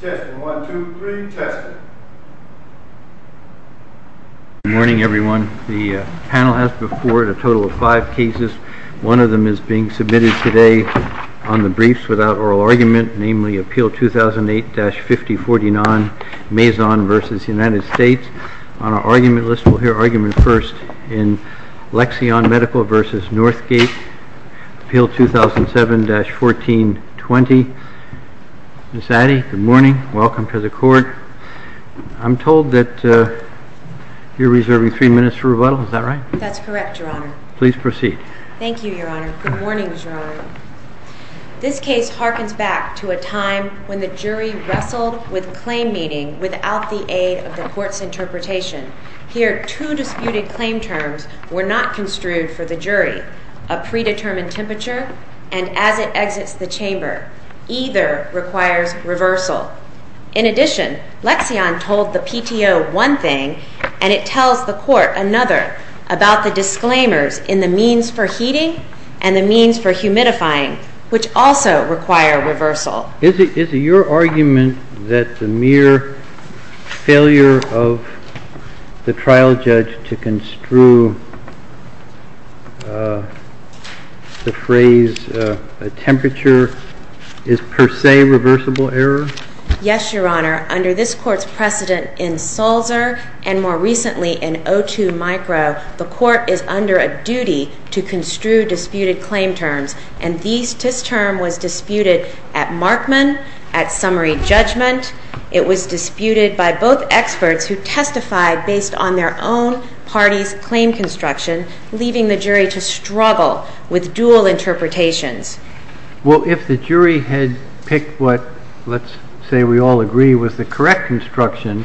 Testing, one, two, three, testing. Good morning everyone. The panel has before it a total of five cases. One of them is being submitted today on the briefs without oral argument, namely, Appeal 2008-5049, Mazon v. United States. On our argument list, we'll hear argument first in Lexion Medical v. Northgate, Appeal 2007-1420. Ms. Addy, good morning, welcome to the court. I'm told that you're reserving three minutes for rebuttal, is that right? That's correct, Your Honor. Please proceed. Thank you, Your Honor. Good morning, Your Honor. This case harkens back to a time when the jury wrestled with claim meeting without the aid of the court's interpretation. Here, two disputed claim terms were not construed for the jury, a predetermined temperature and as it exits the chamber. Either requires reversal. In addition, Lexion told the PTO one thing and it tells the court another about the disclaimers in the means for heating and the means for humidifying, which also require reversal. Is it your argument that the mere failure of the trial judge to construe the phrase temperature is per se reversible error? Yes, Your Honor. Under this court's precedent in Sulzer and more recently in O2 micro, the court is under a duty to construe disputed claim terms and this term was disputed at Markman, at summary judgment. It was disputed by both experts who testified based on their own party's claim construction, leaving the jury to struggle with dual interpretations. Well, if the jury had picked what, let's say we all agree, was the correct construction,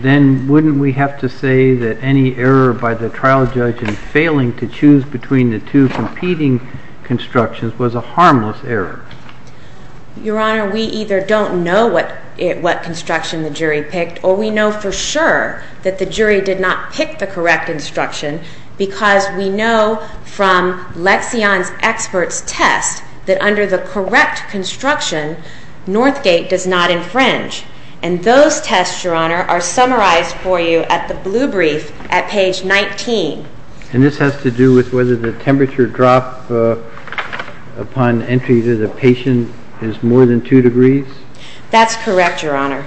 then wouldn't we have to say that any error by the trial judge in failing to constructions was a harmless error? Your Honor, we either don't know what construction the jury picked or we know for sure that the jury did not pick the correct instruction because we know from Lexion's expert's test that under the correct construction, Northgate does not infringe. And those tests, Your Honor, are summarized for you at the blue brief at page 19. And this has to do with whether the temperature drop upon entry to the patient is more than 2 degrees? That's correct, Your Honor.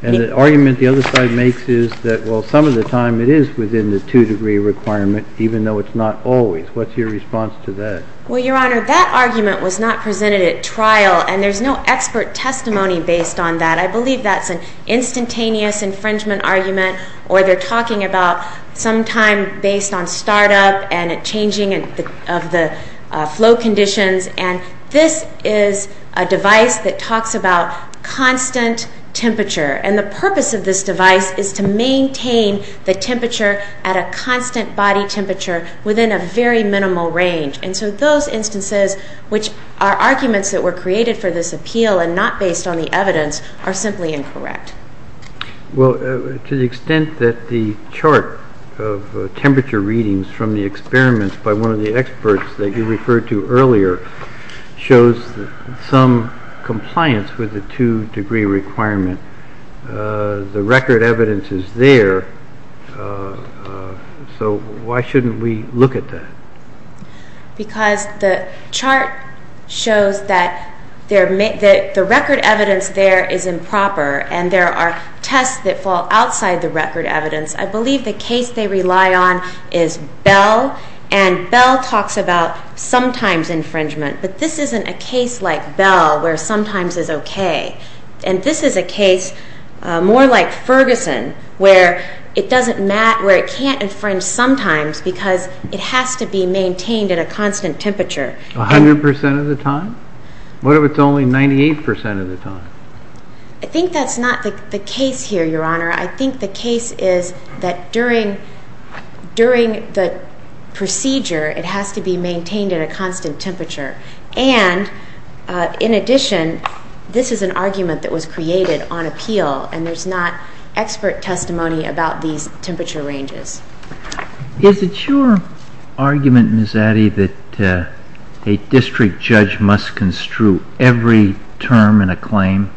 And the argument the other side makes is that, well, some of the time it is within the 2 degree requirement, even though it's not always. What's your response to that? Well, Your Honor, that argument was not presented at trial and there's no expert testimony based on that. I believe that's an instantaneous infringement argument or they're talking about sometime based on startup and changing of the flow conditions. And this is a device that talks about constant temperature. And the purpose of this device is to maintain the temperature at a constant body temperature within a very minimal range. And so those instances, which are arguments that were created for this appeal and not based on the evidence, are simply incorrect. Well, to the extent that the chart of temperature readings from the experiments by one of the experts that you referred to earlier shows some compliance with the 2 degree requirement, the record evidence is there, so why shouldn't we look at that? Because the chart shows that the record evidence there is improper and there are tests that fall outside the record evidence. I believe the case they rely on is Bell. And Bell talks about sometimes infringement, but this isn't a case like Bell where sometimes is okay. And this is a case more like Ferguson where it can't infringe sometimes because it has to be maintained at a constant temperature. 100% of the time? What if it's only 98% of the time? I think that's not the case here, Your Honor. I think the case is that during the procedure, it has to be maintained at a constant temperature. And, in addition, this is an argument that was created on appeal and there's not expert testimony about these temperature ranges. Is it your argument, Ms. Addy, that a district judge must construe every term in a claim?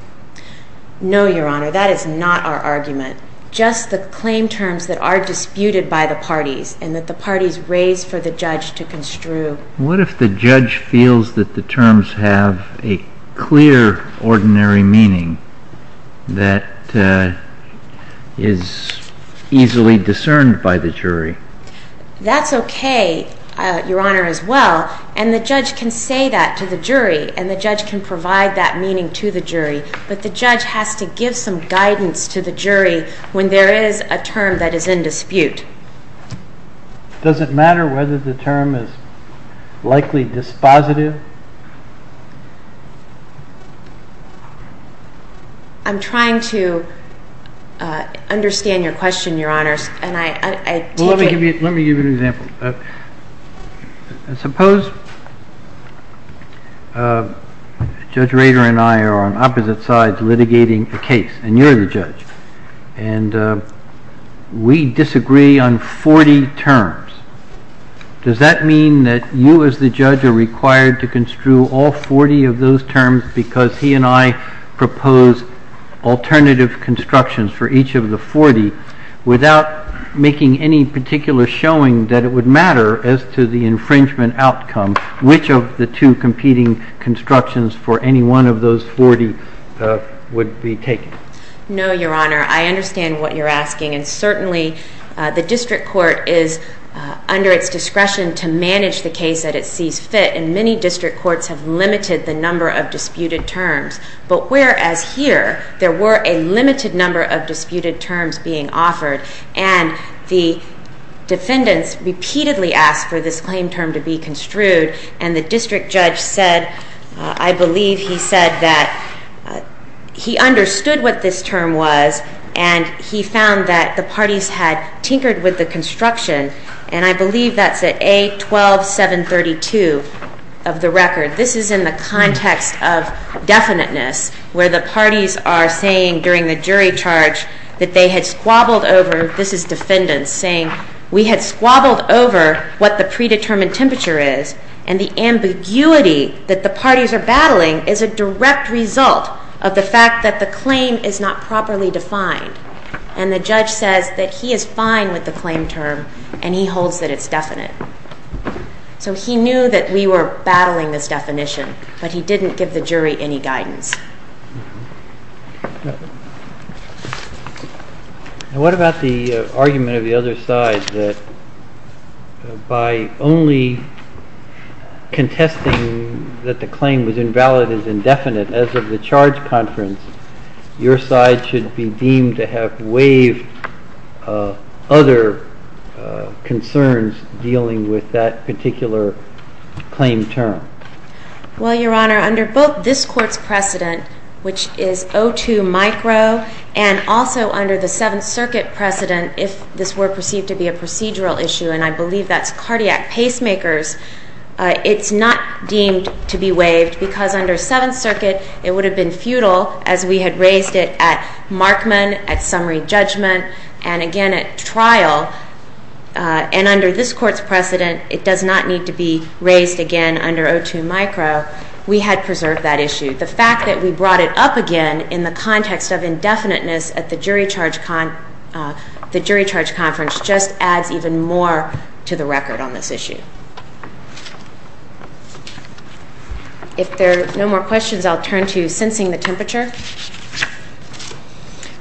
No, Your Honor, that is not our argument. Just the claim terms that are disputed by the parties and that the parties raise for the judge to construe. What if the judge feels that the terms have a clear ordinary meaning that is easily discerned by the jury? That's okay, Your Honor, as well. And the judge can say that to the jury and the judge can provide that meaning to the jury. But the judge has to give some guidance to the jury when there is a term that is in dispute. Does it matter whether the term is likely dispositive? I'm trying to understand your question, Your Honor. Let me give you an example. Suppose Judge Rader and I are on opposite sides litigating a case and you're the judge and we disagree on 40 terms. Does that mean that you as the judge are required to construe all 40 of those terms because he and I propose alternative constructions for each of the 40 without making any particular showing that it would matter as to the infringement outcome, which of the two competing constructions for any one of those 40 would be taken? No, Your Honor. I understand what you're asking, and certainly the district court is under its discretion to manage the case that it sees fit, and many district courts have limited the number of disputed terms. But whereas here, there were a limited number of disputed terms being offered and the defendants repeatedly asked for this claim term to be construed and the district judge said, I believe he said that he understood what this term was and he found that the parties had tinkered with the construction, and I believe that's at A12732 of the record. This is in the context of definiteness where the parties are saying during the jury charge that they had squabbled over, this is defendants saying, we had squabbled over what the predetermined temperature is and the ambiguity that the parties are battling is a direct result of the fact that the claim is not properly defined. And the judge says that he is fine with the claim term and he holds that it's definite. So he knew that we were battling this definition, but he didn't give the jury any guidance. What about the argument of the other side that by only contesting that the claim was invalid is indefinite, as of the charge conference, your side should be deemed to have waived other concerns dealing with that particular claim term? Well, Your Honor, under both this court's precedent, which is O2 micro, and also under the Seventh Circuit precedent if this were perceived to be a procedural issue, and I believe that's cardiac pacemakers, it's not deemed to be waived because under Seventh Circuit it would have been futile as we had raised it at Markman, at summary judgment, and again at trial. And under this court's precedent, it does not need to be raised again under O2 micro. We had preserved that issue. The fact that we brought it up again in the context of indefiniteness at the jury charge conference just adds even more to the record on this issue. If there are no more questions, I'll turn to sensing the temperature.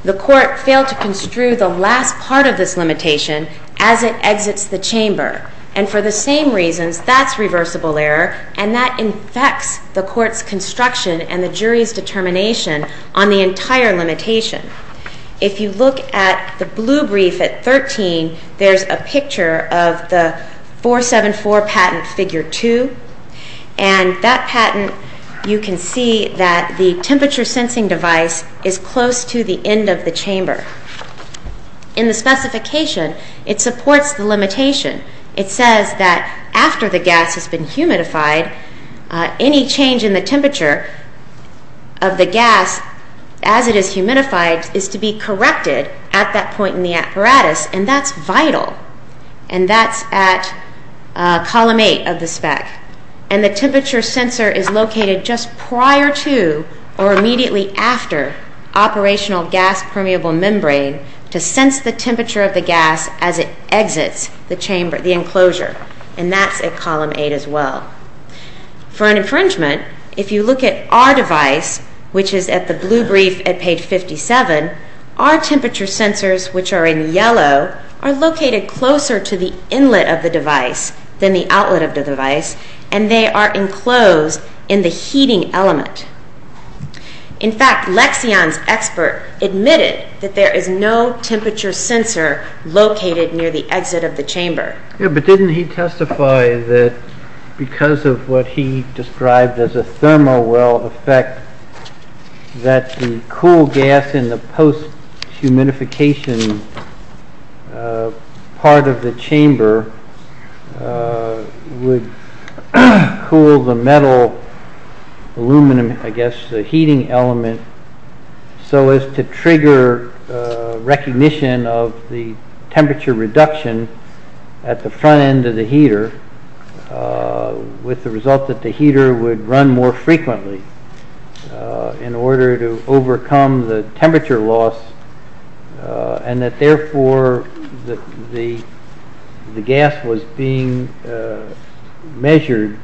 The court failed to construe the last part of this limitation as it exits the chamber, and for the same reasons, that's reversible error, and that infects the court's construction and the jury's determination on the entire limitation. If you look at the blue brief at 13, there's a picture of the 474 patent figure 2, and that patent, you can see that the temperature sensing device is close to the end of the chamber. In the specification, it supports the limitation. It says that after the gas has been humidified, any change in the temperature of the gas as it is humidified is to be corrected at that point in the apparatus, and that's vital, and that's at column 8 of the spec, and the temperature sensor is located just prior to or immediately after operational gas permeable membrane to sense the temperature of the gas as it exits the enclosure, and that's at column 8 as well. For an infringement, if you look at our device, which is at the blue brief at page 57, our temperature sensors, which are in yellow, are located closer to the inlet of the device than the outlet of the device, and they are enclosed in the heating element. In fact, Lexion's expert admitted that there is no temperature sensor located near the exit of the chamber. Yeah, but didn't he testify that because of what he described as a thermal well effect that the cool gas in the post-humidification part of the chamber would cool the metal, aluminum, I guess, the heating element so as to trigger recognition of the temperature reduction at the front end of the heater with the result that the heater would run more frequently in order to overcome the temperature loss, and that therefore the gas was being measured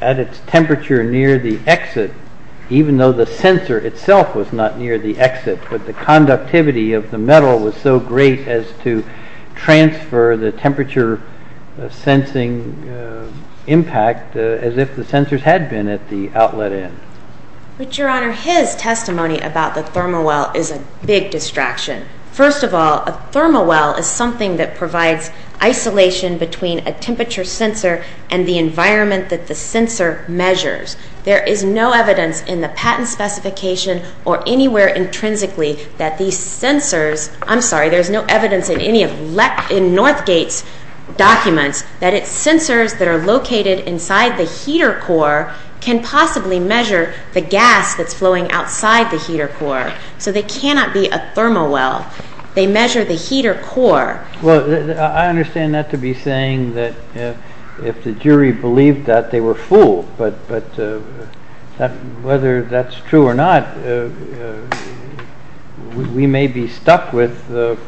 at its temperature near the exit, even though the sensor itself was not near the exit, but the conductivity of the metal was so great as to transfer the temperature-sensing impact as if the sensors had been at the outlet end. But, Your Honor, his testimony about the thermal well is a big distraction. First of all, a thermal well is something that provides isolation between a temperature sensor and the environment that the sensor measures. There is no evidence in the patent specification or anywhere intrinsically that these sensors, I'm sorry, there's no evidence in any of Northgate's documents that its sensors that are located inside the heater core can possibly measure the gas that's flowing outside the heater core. So they cannot be a thermal well. They measure the heater core. Well, I understand that to be saying that if the jury believed that, they were fooled. But whether that's true or not, we may be stuck with the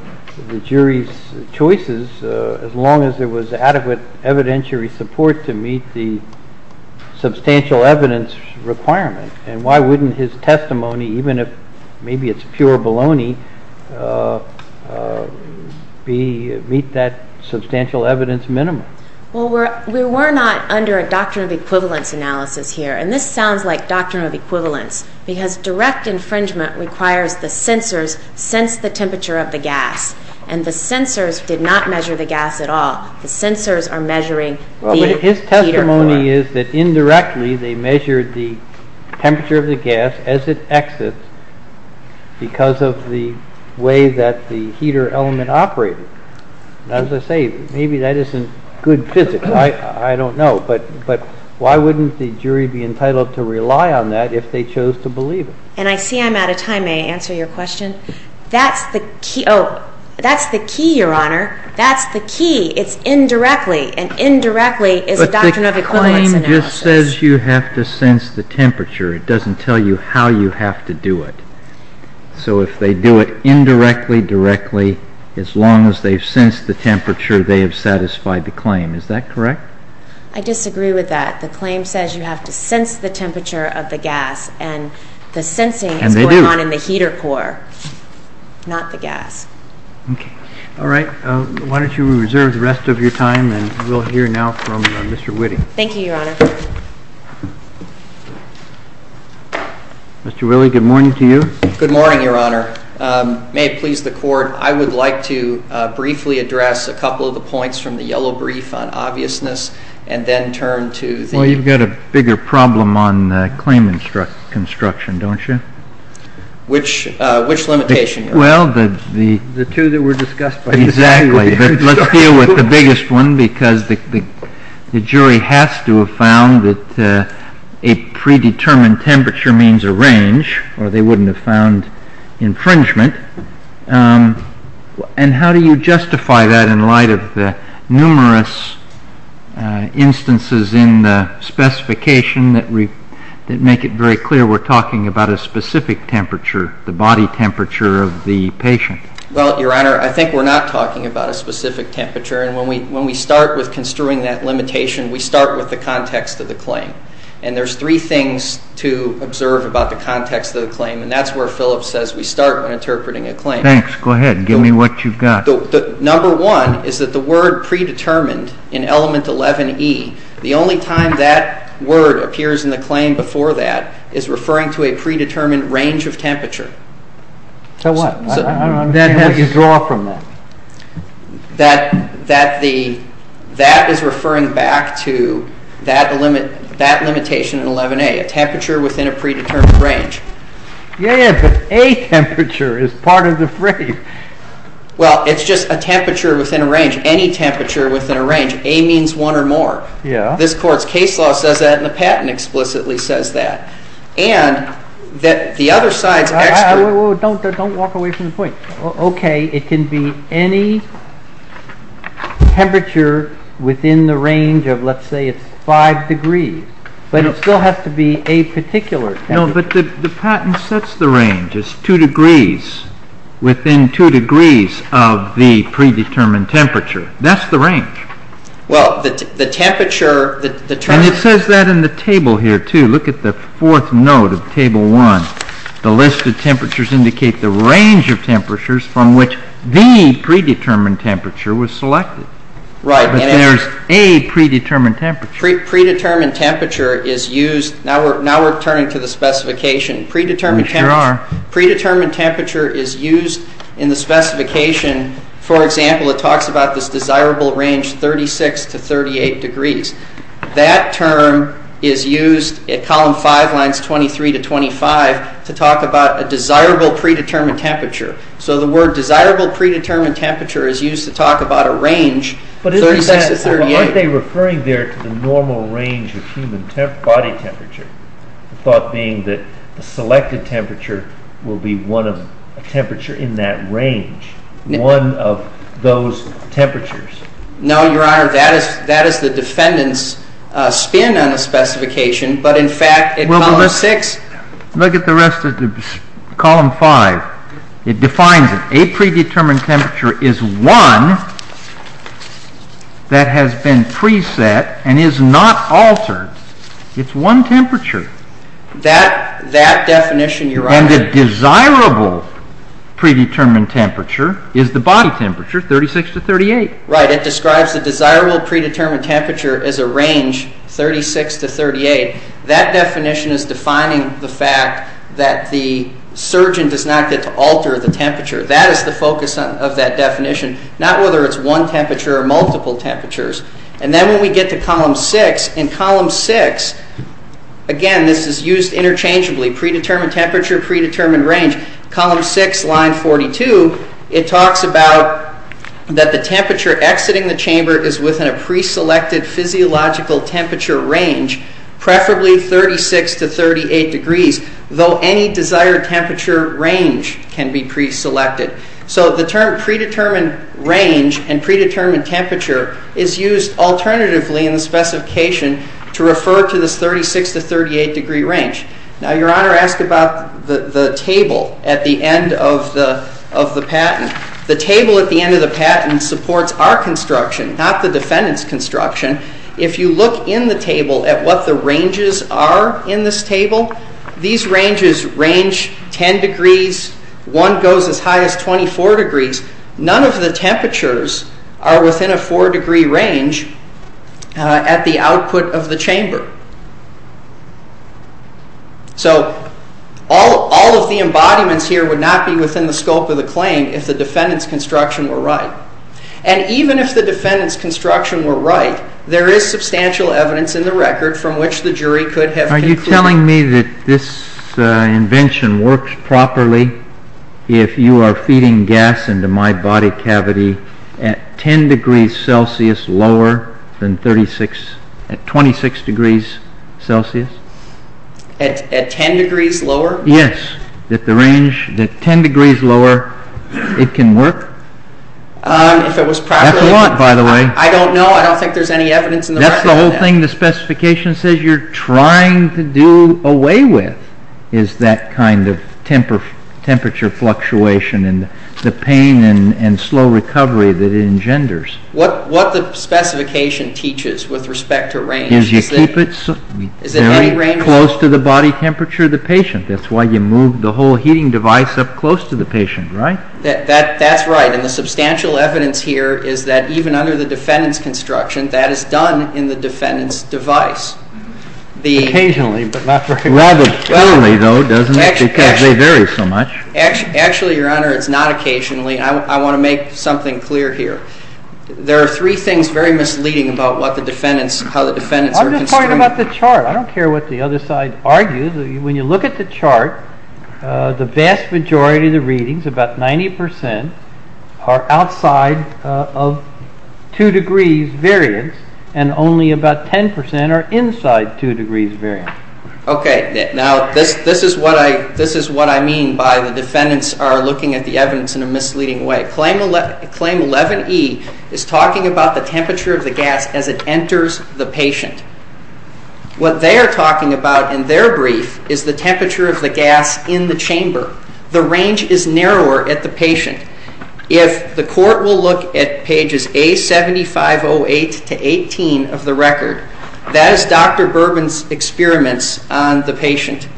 jury's choices as long as there was adequate evidentiary support to meet the substantial evidence requirement. And why wouldn't his testimony, even if maybe it's pure baloney, meet that substantial evidence minimum? Well, we were not under a doctrine of equivalence analysis here, and this sounds like doctrine of equivalence, because direct infringement requires the sensors sense the temperature of the gas, and the sensors did not measure the gas at all. The sensors are measuring the heater core. Well, but his testimony is that indirectly they measured the temperature of the gas as it exits because of the way that the heater element operated. As I say, maybe that isn't good physics. I don't know. But why wouldn't the jury be entitled to rely on that if they chose to believe it? And I see I'm out of time. May I answer your question? That's the key, Your Honor. That's the key. It's indirectly, and indirectly is a doctrine of equivalence analysis. But the claim just says you have to sense the temperature. It doesn't tell you how you have to do it. So if they do it indirectly, directly, as long as they've sensed the temperature, they have satisfied the claim. Is that correct? I disagree with that. The claim says you have to sense the temperature of the gas, and the sensing is going on in the heater core, not the gas. Okay. All right. Why don't you reserve the rest of your time, and we'll hear now from Mr. Whitting. Thank you, Your Honor. Mr. Willie, good morning to you. Good morning, Your Honor. May it please the Court, I would like to briefly address a couple of the points from the yellow brief on obviousness, and then turn to the ---- Well, you've got a bigger problem on the claim construction, don't you? Which limitation, Your Honor? Well, the ---- The two that were discussed. Exactly. But let's deal with the biggest one, because the jury has to have found that a predetermined temperature means a range, or they wouldn't have found infringement. And how do you justify that in light of the numerous instances in the specification that make it very clear we're talking about a specific temperature, the body temperature of the patient? Well, Your Honor, I think we're not talking about a specific temperature. And when we start with construing that limitation, we start with the context of the claim. And there's three things to observe about the context of the claim, and that's where Phillips says we start when interpreting a claim. Thanks. Go ahead. Give me what you've got. Number one is that the word predetermined in element 11E, the only time that word appears in the claim before that is referring to a predetermined range of temperature. So what? I don't understand what you draw from that. That is referring back to that limitation in 11A, a temperature within a predetermined range. Yeah, but a temperature is part of the phrase. Well, it's just a temperature within a range, any temperature within a range. A means one or more. Yeah. This Court's case law says that, and the patent explicitly says that. Don't walk away from the point. Okay, it can be any temperature within the range of, let's say it's five degrees, but it still has to be a particular temperature. No, but the patent sets the range as two degrees, within two degrees of the predetermined temperature. That's the range. Well, the temperature determines. And it says that in the table here, too. Look at the fourth note of Table 1. The list of temperatures indicate the range of temperatures from which the predetermined temperature was selected. Right. But there's a predetermined temperature. Predetermined temperature is used. Now we're turning to the specification. We sure are. Predetermined temperature is used in the specification. For example, it talks about this desirable range, 36 to 38 degrees. That term is used at Column 5, Lines 23 to 25, to talk about a desirable predetermined temperature. So the word desirable predetermined temperature is used to talk about a range, 36 to 38. But aren't they referring there to the normal range of human body temperature, the thought being that the selected temperature will be one of a temperature in that range, one of those temperatures? No, Your Honor. That is the defendant's spin on the specification. But, in fact, in Column 6. Look at the rest of Column 5. It defines it. A predetermined temperature is one that has been preset and is not altered. It's one temperature. That definition, Your Honor. And the desirable predetermined temperature is the body temperature, 36 to 38. Right. It describes the desirable predetermined temperature as a range, 36 to 38. That definition is defining the fact that the surgeon does not get to alter the temperature. That is the focus of that definition. Not whether it's one temperature or multiple temperatures. And then when we get to Column 6. In Column 6, again, this is used interchangeably. Predetermined temperature, predetermined range. In Column 6, Line 42, it talks about that the temperature exiting the chamber is within a preselected physiological temperature range. Preferably 36 to 38 degrees. Though any desired temperature range can be preselected. So the term predetermined range and predetermined temperature is used alternatively in the specification to refer to this 36 to 38 degree range. Now, Your Honor asked about the table at the end of the patent. The table at the end of the patent supports our construction, not the defendant's construction. If you look in the table at what the ranges are in this table, these ranges range 10 degrees. One goes as high as 24 degrees. None of the temperatures are within a four degree range at the output of the chamber. So all of the embodiments here would not be within the scope of the claim if the defendant's construction were right. And even if the defendant's construction were right, there is substantial evidence in the record from which the jury could have concluded. Are you telling me that this invention works properly if you are feeding gas into my body cavity at 10 degrees Celsius lower than 36, at 26 degrees Celsius? At 10 degrees lower? Yes. At the range, at 10 degrees lower, it can work? If it was properly... That's a lot, by the way. I don't know. I don't think there's any evidence in the record. That's the whole thing the specification says you're trying to do away with, is that kind of temperature fluctuation and the pain and slow recovery that it engenders. What the specification teaches with respect to range is that... Is you keep it very close to the body temperature of the patient. That's why you move the whole heating device up close to the patient, right? That's right. And the substantial evidence here is that even under the defendant's construction, that is done in the defendant's device. Occasionally, but not very often. Rather rarely, though, doesn't it, because they vary so much. Actually, Your Honor, it's not occasionally. I want to make something clear here. There are three things very misleading about what the defendants, how the defendants are construed. I'm just talking about the chart. I don't care what the other side argues. When you look at the chart, the vast majority of the readings, about 90%, are outside of 2 degrees variance, and only about 10% are inside 2 degrees variance. Okay. Now, this is what I mean by the defendants are looking at the evidence in a misleading way. Claim 11E is talking about the temperature of the gas as it enters the patient. What they are talking about in their brief is the temperature of the gas in the chamber. The range is narrower at the patient. If the court will look at pages A7508 to 18 of the record, that is Dr. Bourbon's experiments on the patient,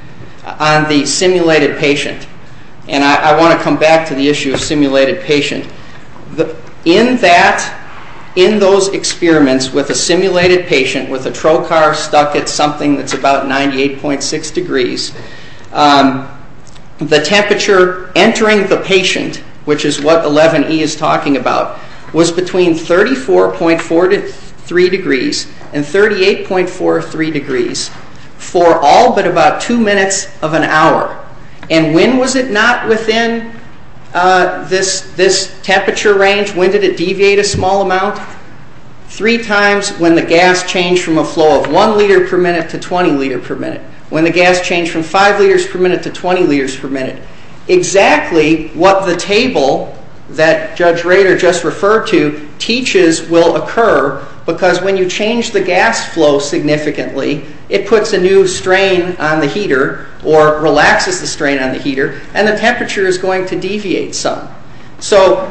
on the simulated patient. And I want to come back to the issue of simulated patient. In that, in those experiments with a simulated patient, with a trocar stuck at something that's about 98.6 degrees, the temperature entering the patient, which is what 11E is talking about, was between 34.43 degrees and 38.43 degrees for all but about 2 minutes of an hour. And when was it not within this temperature range? When did it deviate a small amount? Three times when the gas changed from a flow of 1 liter per minute to 20 liter per minute. When the gas changed from 5 liters per minute to 20 liters per minute. Exactly what the table that Judge Rader just referred to teaches will occur because when you change the gas flow significantly, it puts a new strain on the heater or relaxes the strain on the heater and the temperature is going to deviate some. So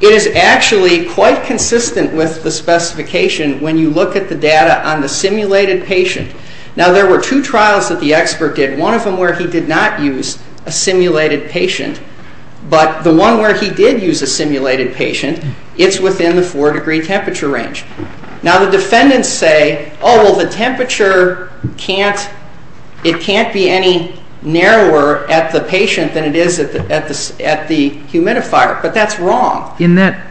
it is actually quite consistent with the specification when you look at the data on the simulated patient. Now there were two trials that the expert did. One of them where he did not use a simulated patient. But the one where he did use a simulated patient, it's within the 4 degree temperature range. Now the defendants say, oh well the temperature can't, it can't be any narrower at the patient than it is at the humidifier. But that's wrong. Now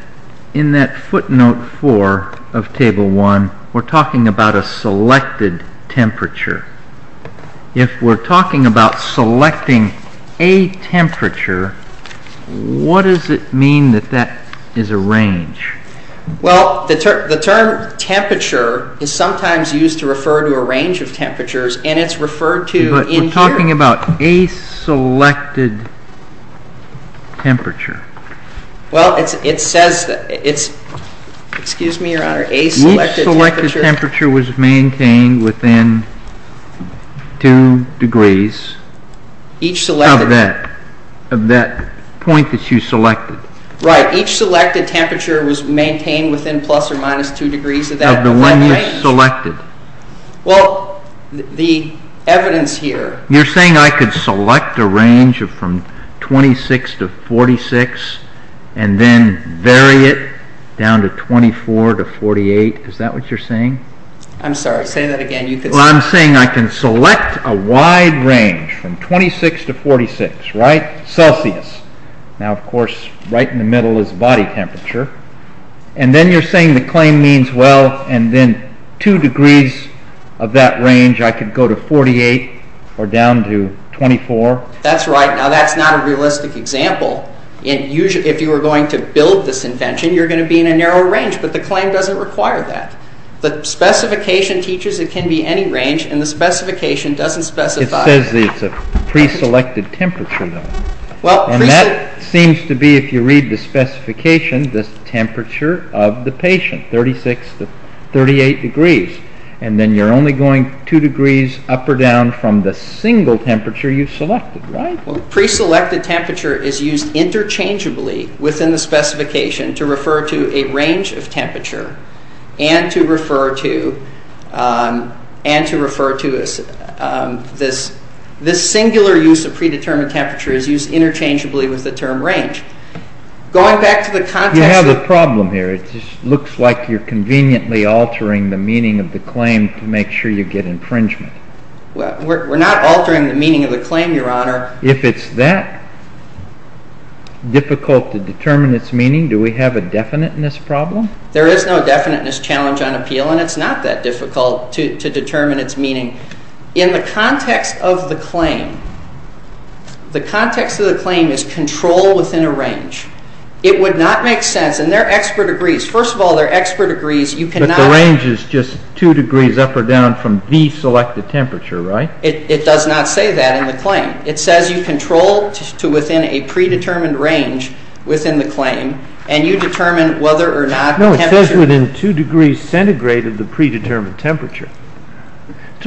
in that footnote 4 of table 1, we're talking about a selected temperature. If we're talking about selecting a temperature, what does it mean that that is a range? Well the term temperature is sometimes used to refer to a range of temperatures and it's referred to in here. But we're talking about a selected temperature. Well it says that it's, excuse me your honor, a selected temperature. Each selected temperature was maintained within 2 degrees of that point that you selected. Right, each selected temperature was maintained within plus or minus 2 degrees of that range. Of the one you selected. Well the evidence here. You're saying I could select a range from 26 to 46 and then vary it down to 24 to 48, is that what you're saying? I'm sorry, say that again. Well I'm saying I can select a wide range from 26 to 46, right, Celsius. Now of course right in the middle is body temperature. And then you're saying the claim means well and then 2 degrees of that range, I could go to 48 or down to 24. That's right, now that's not a realistic example. If you were going to build this invention, you're going to be in a narrow range, but the claim doesn't require that. The specification teaches it can be any range and the specification doesn't specify it. It says it's a pre-selected temperature though. And that seems to be, if you read the specification, the temperature of the patient, 36 to 38 degrees. And then you're only going 2 degrees up or down from the single temperature you selected, right? Pre-selected temperature is used interchangeably within the specification to refer to a range of temperature. And to refer to this singular use of pre-determined temperature is used interchangeably with the term range. Going back to the context... You have a problem here. It just looks like you're conveniently altering the meaning of the claim to make sure you get infringement. We're not altering the meaning of the claim, Your Honor. If it's that difficult to determine its meaning, do we have a definite in this problem? There is no definite in this challenge on appeal, and it's not that difficult to determine its meaning. In the context of the claim, the context of the claim is control within a range. It would not make sense, and their expert agrees. First of all, their expert agrees you cannot... But the range is just 2 degrees up or down from the selected temperature, right? It does not say that in the claim. It says you control to within a pre-determined range within the claim, and you determine whether or not the temperature... No, it says within 2 degrees centigrade of the pre-determined temperature.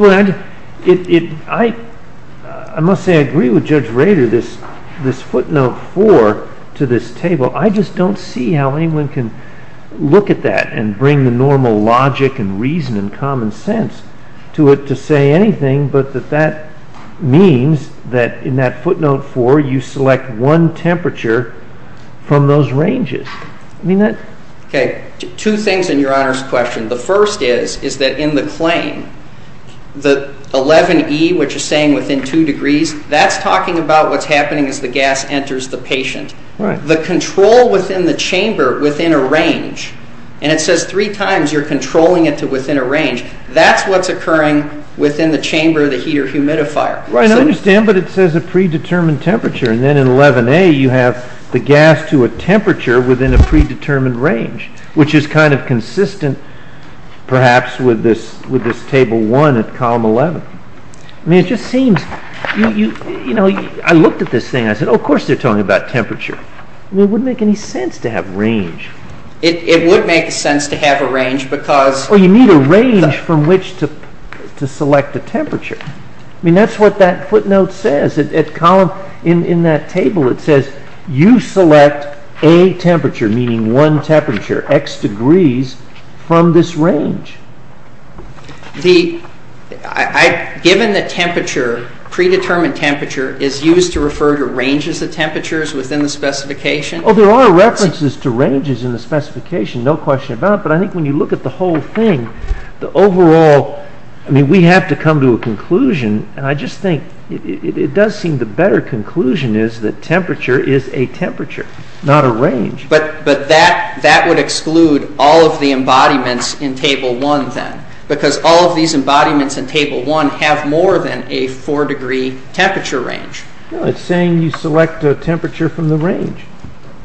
I must say I agree with Judge Rader, this footnote 4 to this table. I just don't see how anyone can look at that and bring the normal logic and reason and common sense to it to say anything, but that that means that in that footnote 4, you select one temperature from those ranges. Two things in Your Honor's question. The first is that in the claim, the 11E, which is saying within 2 degrees, that's talking about what's happening as the gas enters the patient. The control within the chamber within a range, and it says 3 times you're controlling it to within a range, that's what's occurring within the chamber of the heater-humidifier. Right, I understand, but it says a pre-determined temperature, and then in 11A, you have the gas to a temperature within a pre-determined range, which is kind of consistent, perhaps, with this Table 1 at Column 11. I mean, it just seems... You know, I looked at this thing. I said, oh, of course they're talking about temperature. It wouldn't make any sense to have range. It would make sense to have a range because... Oh, you need a range from which to select a temperature. I mean, that's what that footnote says. At Column, in that table, it says you select a temperature, meaning one temperature, x degrees, from this range. Given the temperature, pre-determined temperature is used to refer to ranges of temperatures within the specification. Oh, there are references to ranges in the specification, no question about it, but I think when you look at the whole thing, the overall... I mean, we have to come to a conclusion, and I just think it does seem the better conclusion is that temperature is a temperature, not a range. But that would exclude all of the embodiments in Table 1, then, because all of these embodiments in Table 1 have more than a four-degree temperature range. No, it's saying you select a temperature from the range,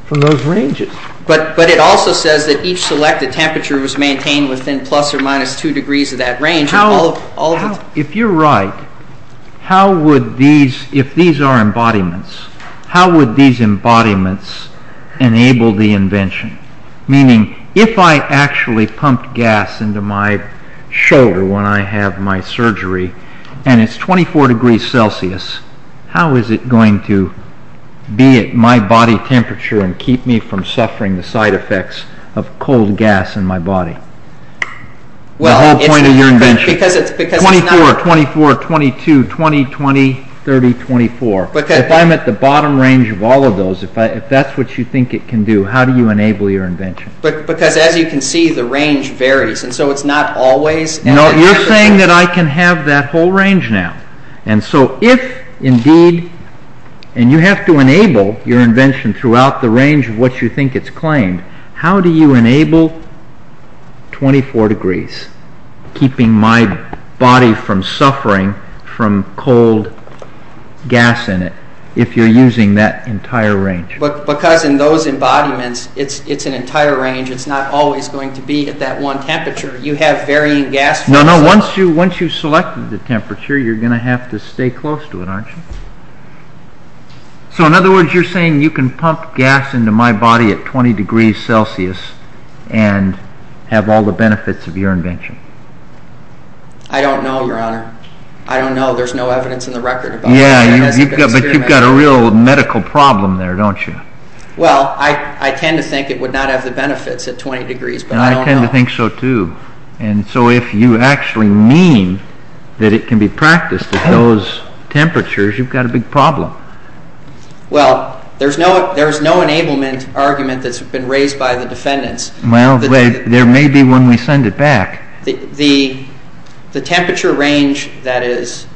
from those ranges. But it also says that each selected temperature was maintained within plus or minus two degrees of that range. If you're right, if these are embodiments, how would these embodiments enable the invention? Meaning, if I actually pumped gas into my shoulder when I have my surgery, and it's 24 degrees Celsius, how is it going to be at my body temperature and keep me from suffering the side effects of cold gas in my body? The whole point of your invention. 24, 24, 22, 20, 20, 30, 24. If I'm at the bottom range of all of those, if that's what you think it can do, how do you enable your invention? Because, as you can see, the range varies, and so it's not always... No, you're saying that I can have that whole range now. And so if, indeed, and you have to enable your invention throughout the range of what you think it's claimed, how do you enable 24 degrees, keeping my body from suffering from cold gas in it, if you're using that entire range? Because in those embodiments, it's an entire range. It's not always going to be at that one temperature. You have varying gas... No, no, once you've selected the temperature, you're going to have to stay close to it, aren't you? So, in other words, you're saying you can pump gas into my body at 20 degrees Celsius and have all the benefits of your invention. I don't know, Your Honor. I don't know. There's no evidence in the record about that. Yeah, but you've got a real medical problem there, don't you? Well, I tend to think it would not have the benefits at 20 degrees, but I don't know. And I tend to think so, too. And so if you actually mean that it can be practiced at those temperatures, you've got a big problem. Well, there's no enablement argument that's been raised by the defendants. Well, there may be when we send it back. The temperature range that is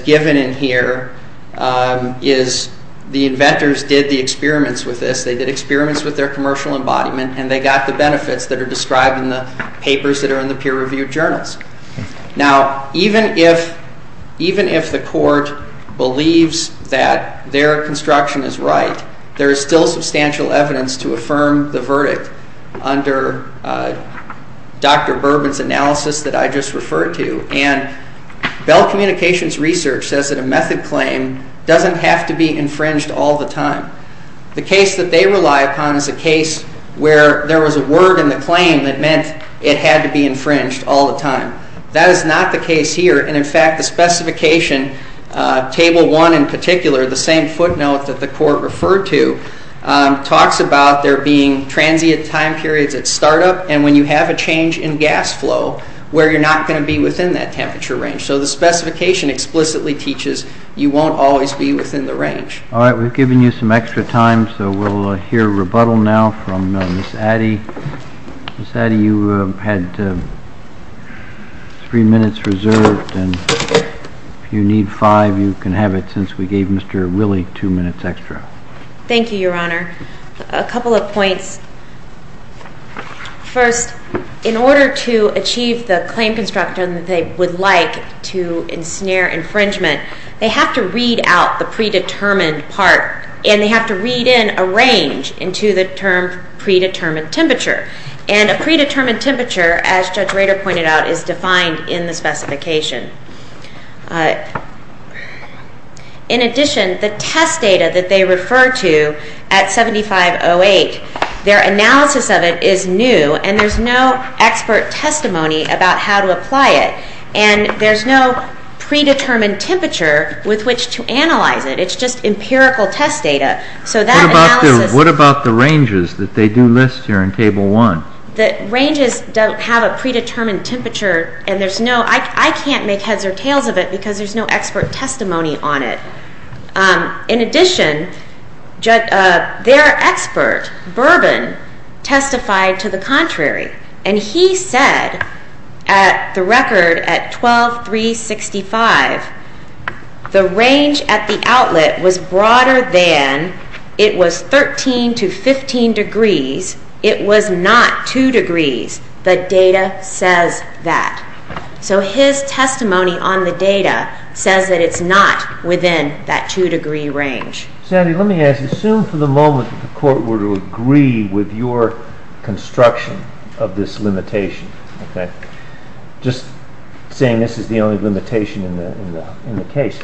given in here is... The inventors did the experiments with this. They did experiments with their commercial embodiment, and they got the benefits that are described in the papers that are in the peer-reviewed journals. Now, even if the court believes that their construction is right, there is still substantial evidence to affirm the verdict under Dr. Bourbon's analysis that I just referred to. And Bell Communications Research says that a method claim doesn't have to be infringed all the time. The case that they rely upon is a case where there was a word in the claim that meant it had to be infringed all the time. That is not the case here. And, in fact, the specification, Table 1 in particular, the same footnote that the court referred to, talks about there being transient time periods at startup and when you have a change in gas flow, where you're not going to be within that temperature range. So the specification explicitly teaches you won't always be within the range. All right, we've given you some extra time, so we'll hear rebuttal now from Ms. Addy. Ms. Addy, you had three minutes reserved, and if you need five, you can have it since we gave Mr. Willey two minutes extra. Thank you, Your Honor. A couple of points. First, in order to achieve the claim construction that they would like to ensnare infringement, they have to read out the predetermined part and they have to read in a range into the term predetermined temperature. And a predetermined temperature, as Judge Rader pointed out, is defined in the specification. In addition, the test data that they refer to at 7508, their analysis of it is new and there's no expert testimony about how to apply it. And there's no predetermined temperature with which to analyze it. It's just empirical test data. What about the ranges that they do list here in Table 1? The ranges have a predetermined temperature and I can't make heads or tails of it because there's no expert testimony on it. In addition, their expert, Bourbon, testified to the contrary, and he said at the record at 12365, the range at the outlet was broader than it was 13 to 15 degrees. It was not 2 degrees. The data says that. So his testimony on the data says that it's not within that 2-degree range. Sandy, let me ask you. Assume for the moment the court were to agree with your construction of this limitation. Just saying this is the only limitation in the case.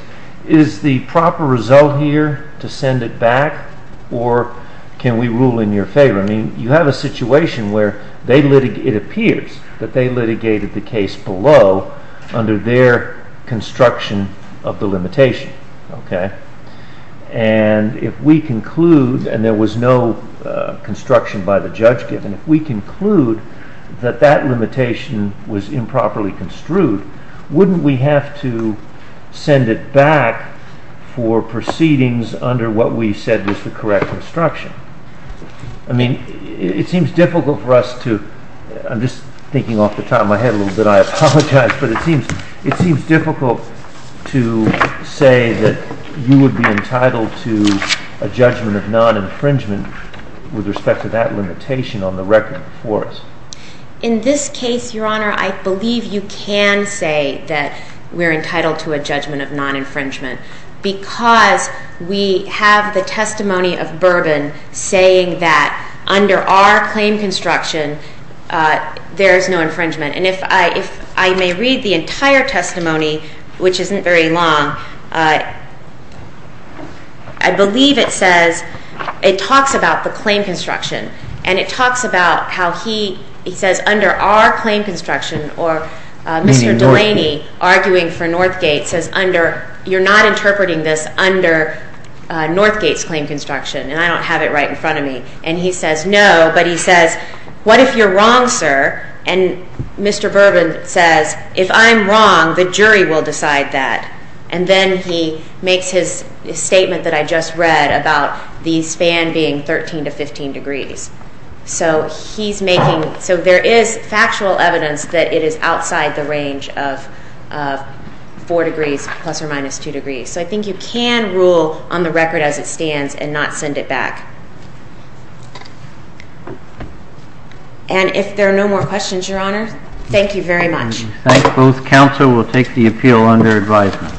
Is the proper result here to send it back or can we rule in your favor? You have a situation where it appears that they litigated the case below under their construction of the limitation. If we conclude, and there was no construction by the judge given, if we conclude that that limitation was improperly construed, wouldn't we have to send it back for proceedings under what we said was the correct construction? It seems difficult for us to... I'm just thinking off the top of my head a little bit. I apologize. But it seems difficult to say that you would be entitled to a judgment of non-infringement with respect to that limitation on the record for us. In this case, Your Honor, I believe you can say that we're entitled to a judgment of non-infringement because we have the testimony of Bourbon saying that under our claim construction there is no infringement. And if I may read the entire testimony, which isn't very long, I believe it says, it talks about the claim construction, and it talks about how he says under our claim construction, or Mr. Delaney arguing for Northgate says, you're not interpreting this under Northgate's claim construction, and I don't have it right in front of me. And he says, no, but he says, what if you're wrong, sir? And Mr. Bourbon says, if I'm wrong, the jury will decide that. And then he makes his statement that I just read about the span being 13 to 15 degrees. So there is factual evidence that it is outside the range of 4 degrees plus or minus 2 degrees. So I think you can rule on the record as it stands and not send it back. And if there are no more questions, Your Honor, thank you very much. Thank you. Both counsel will take the appeal under advisement.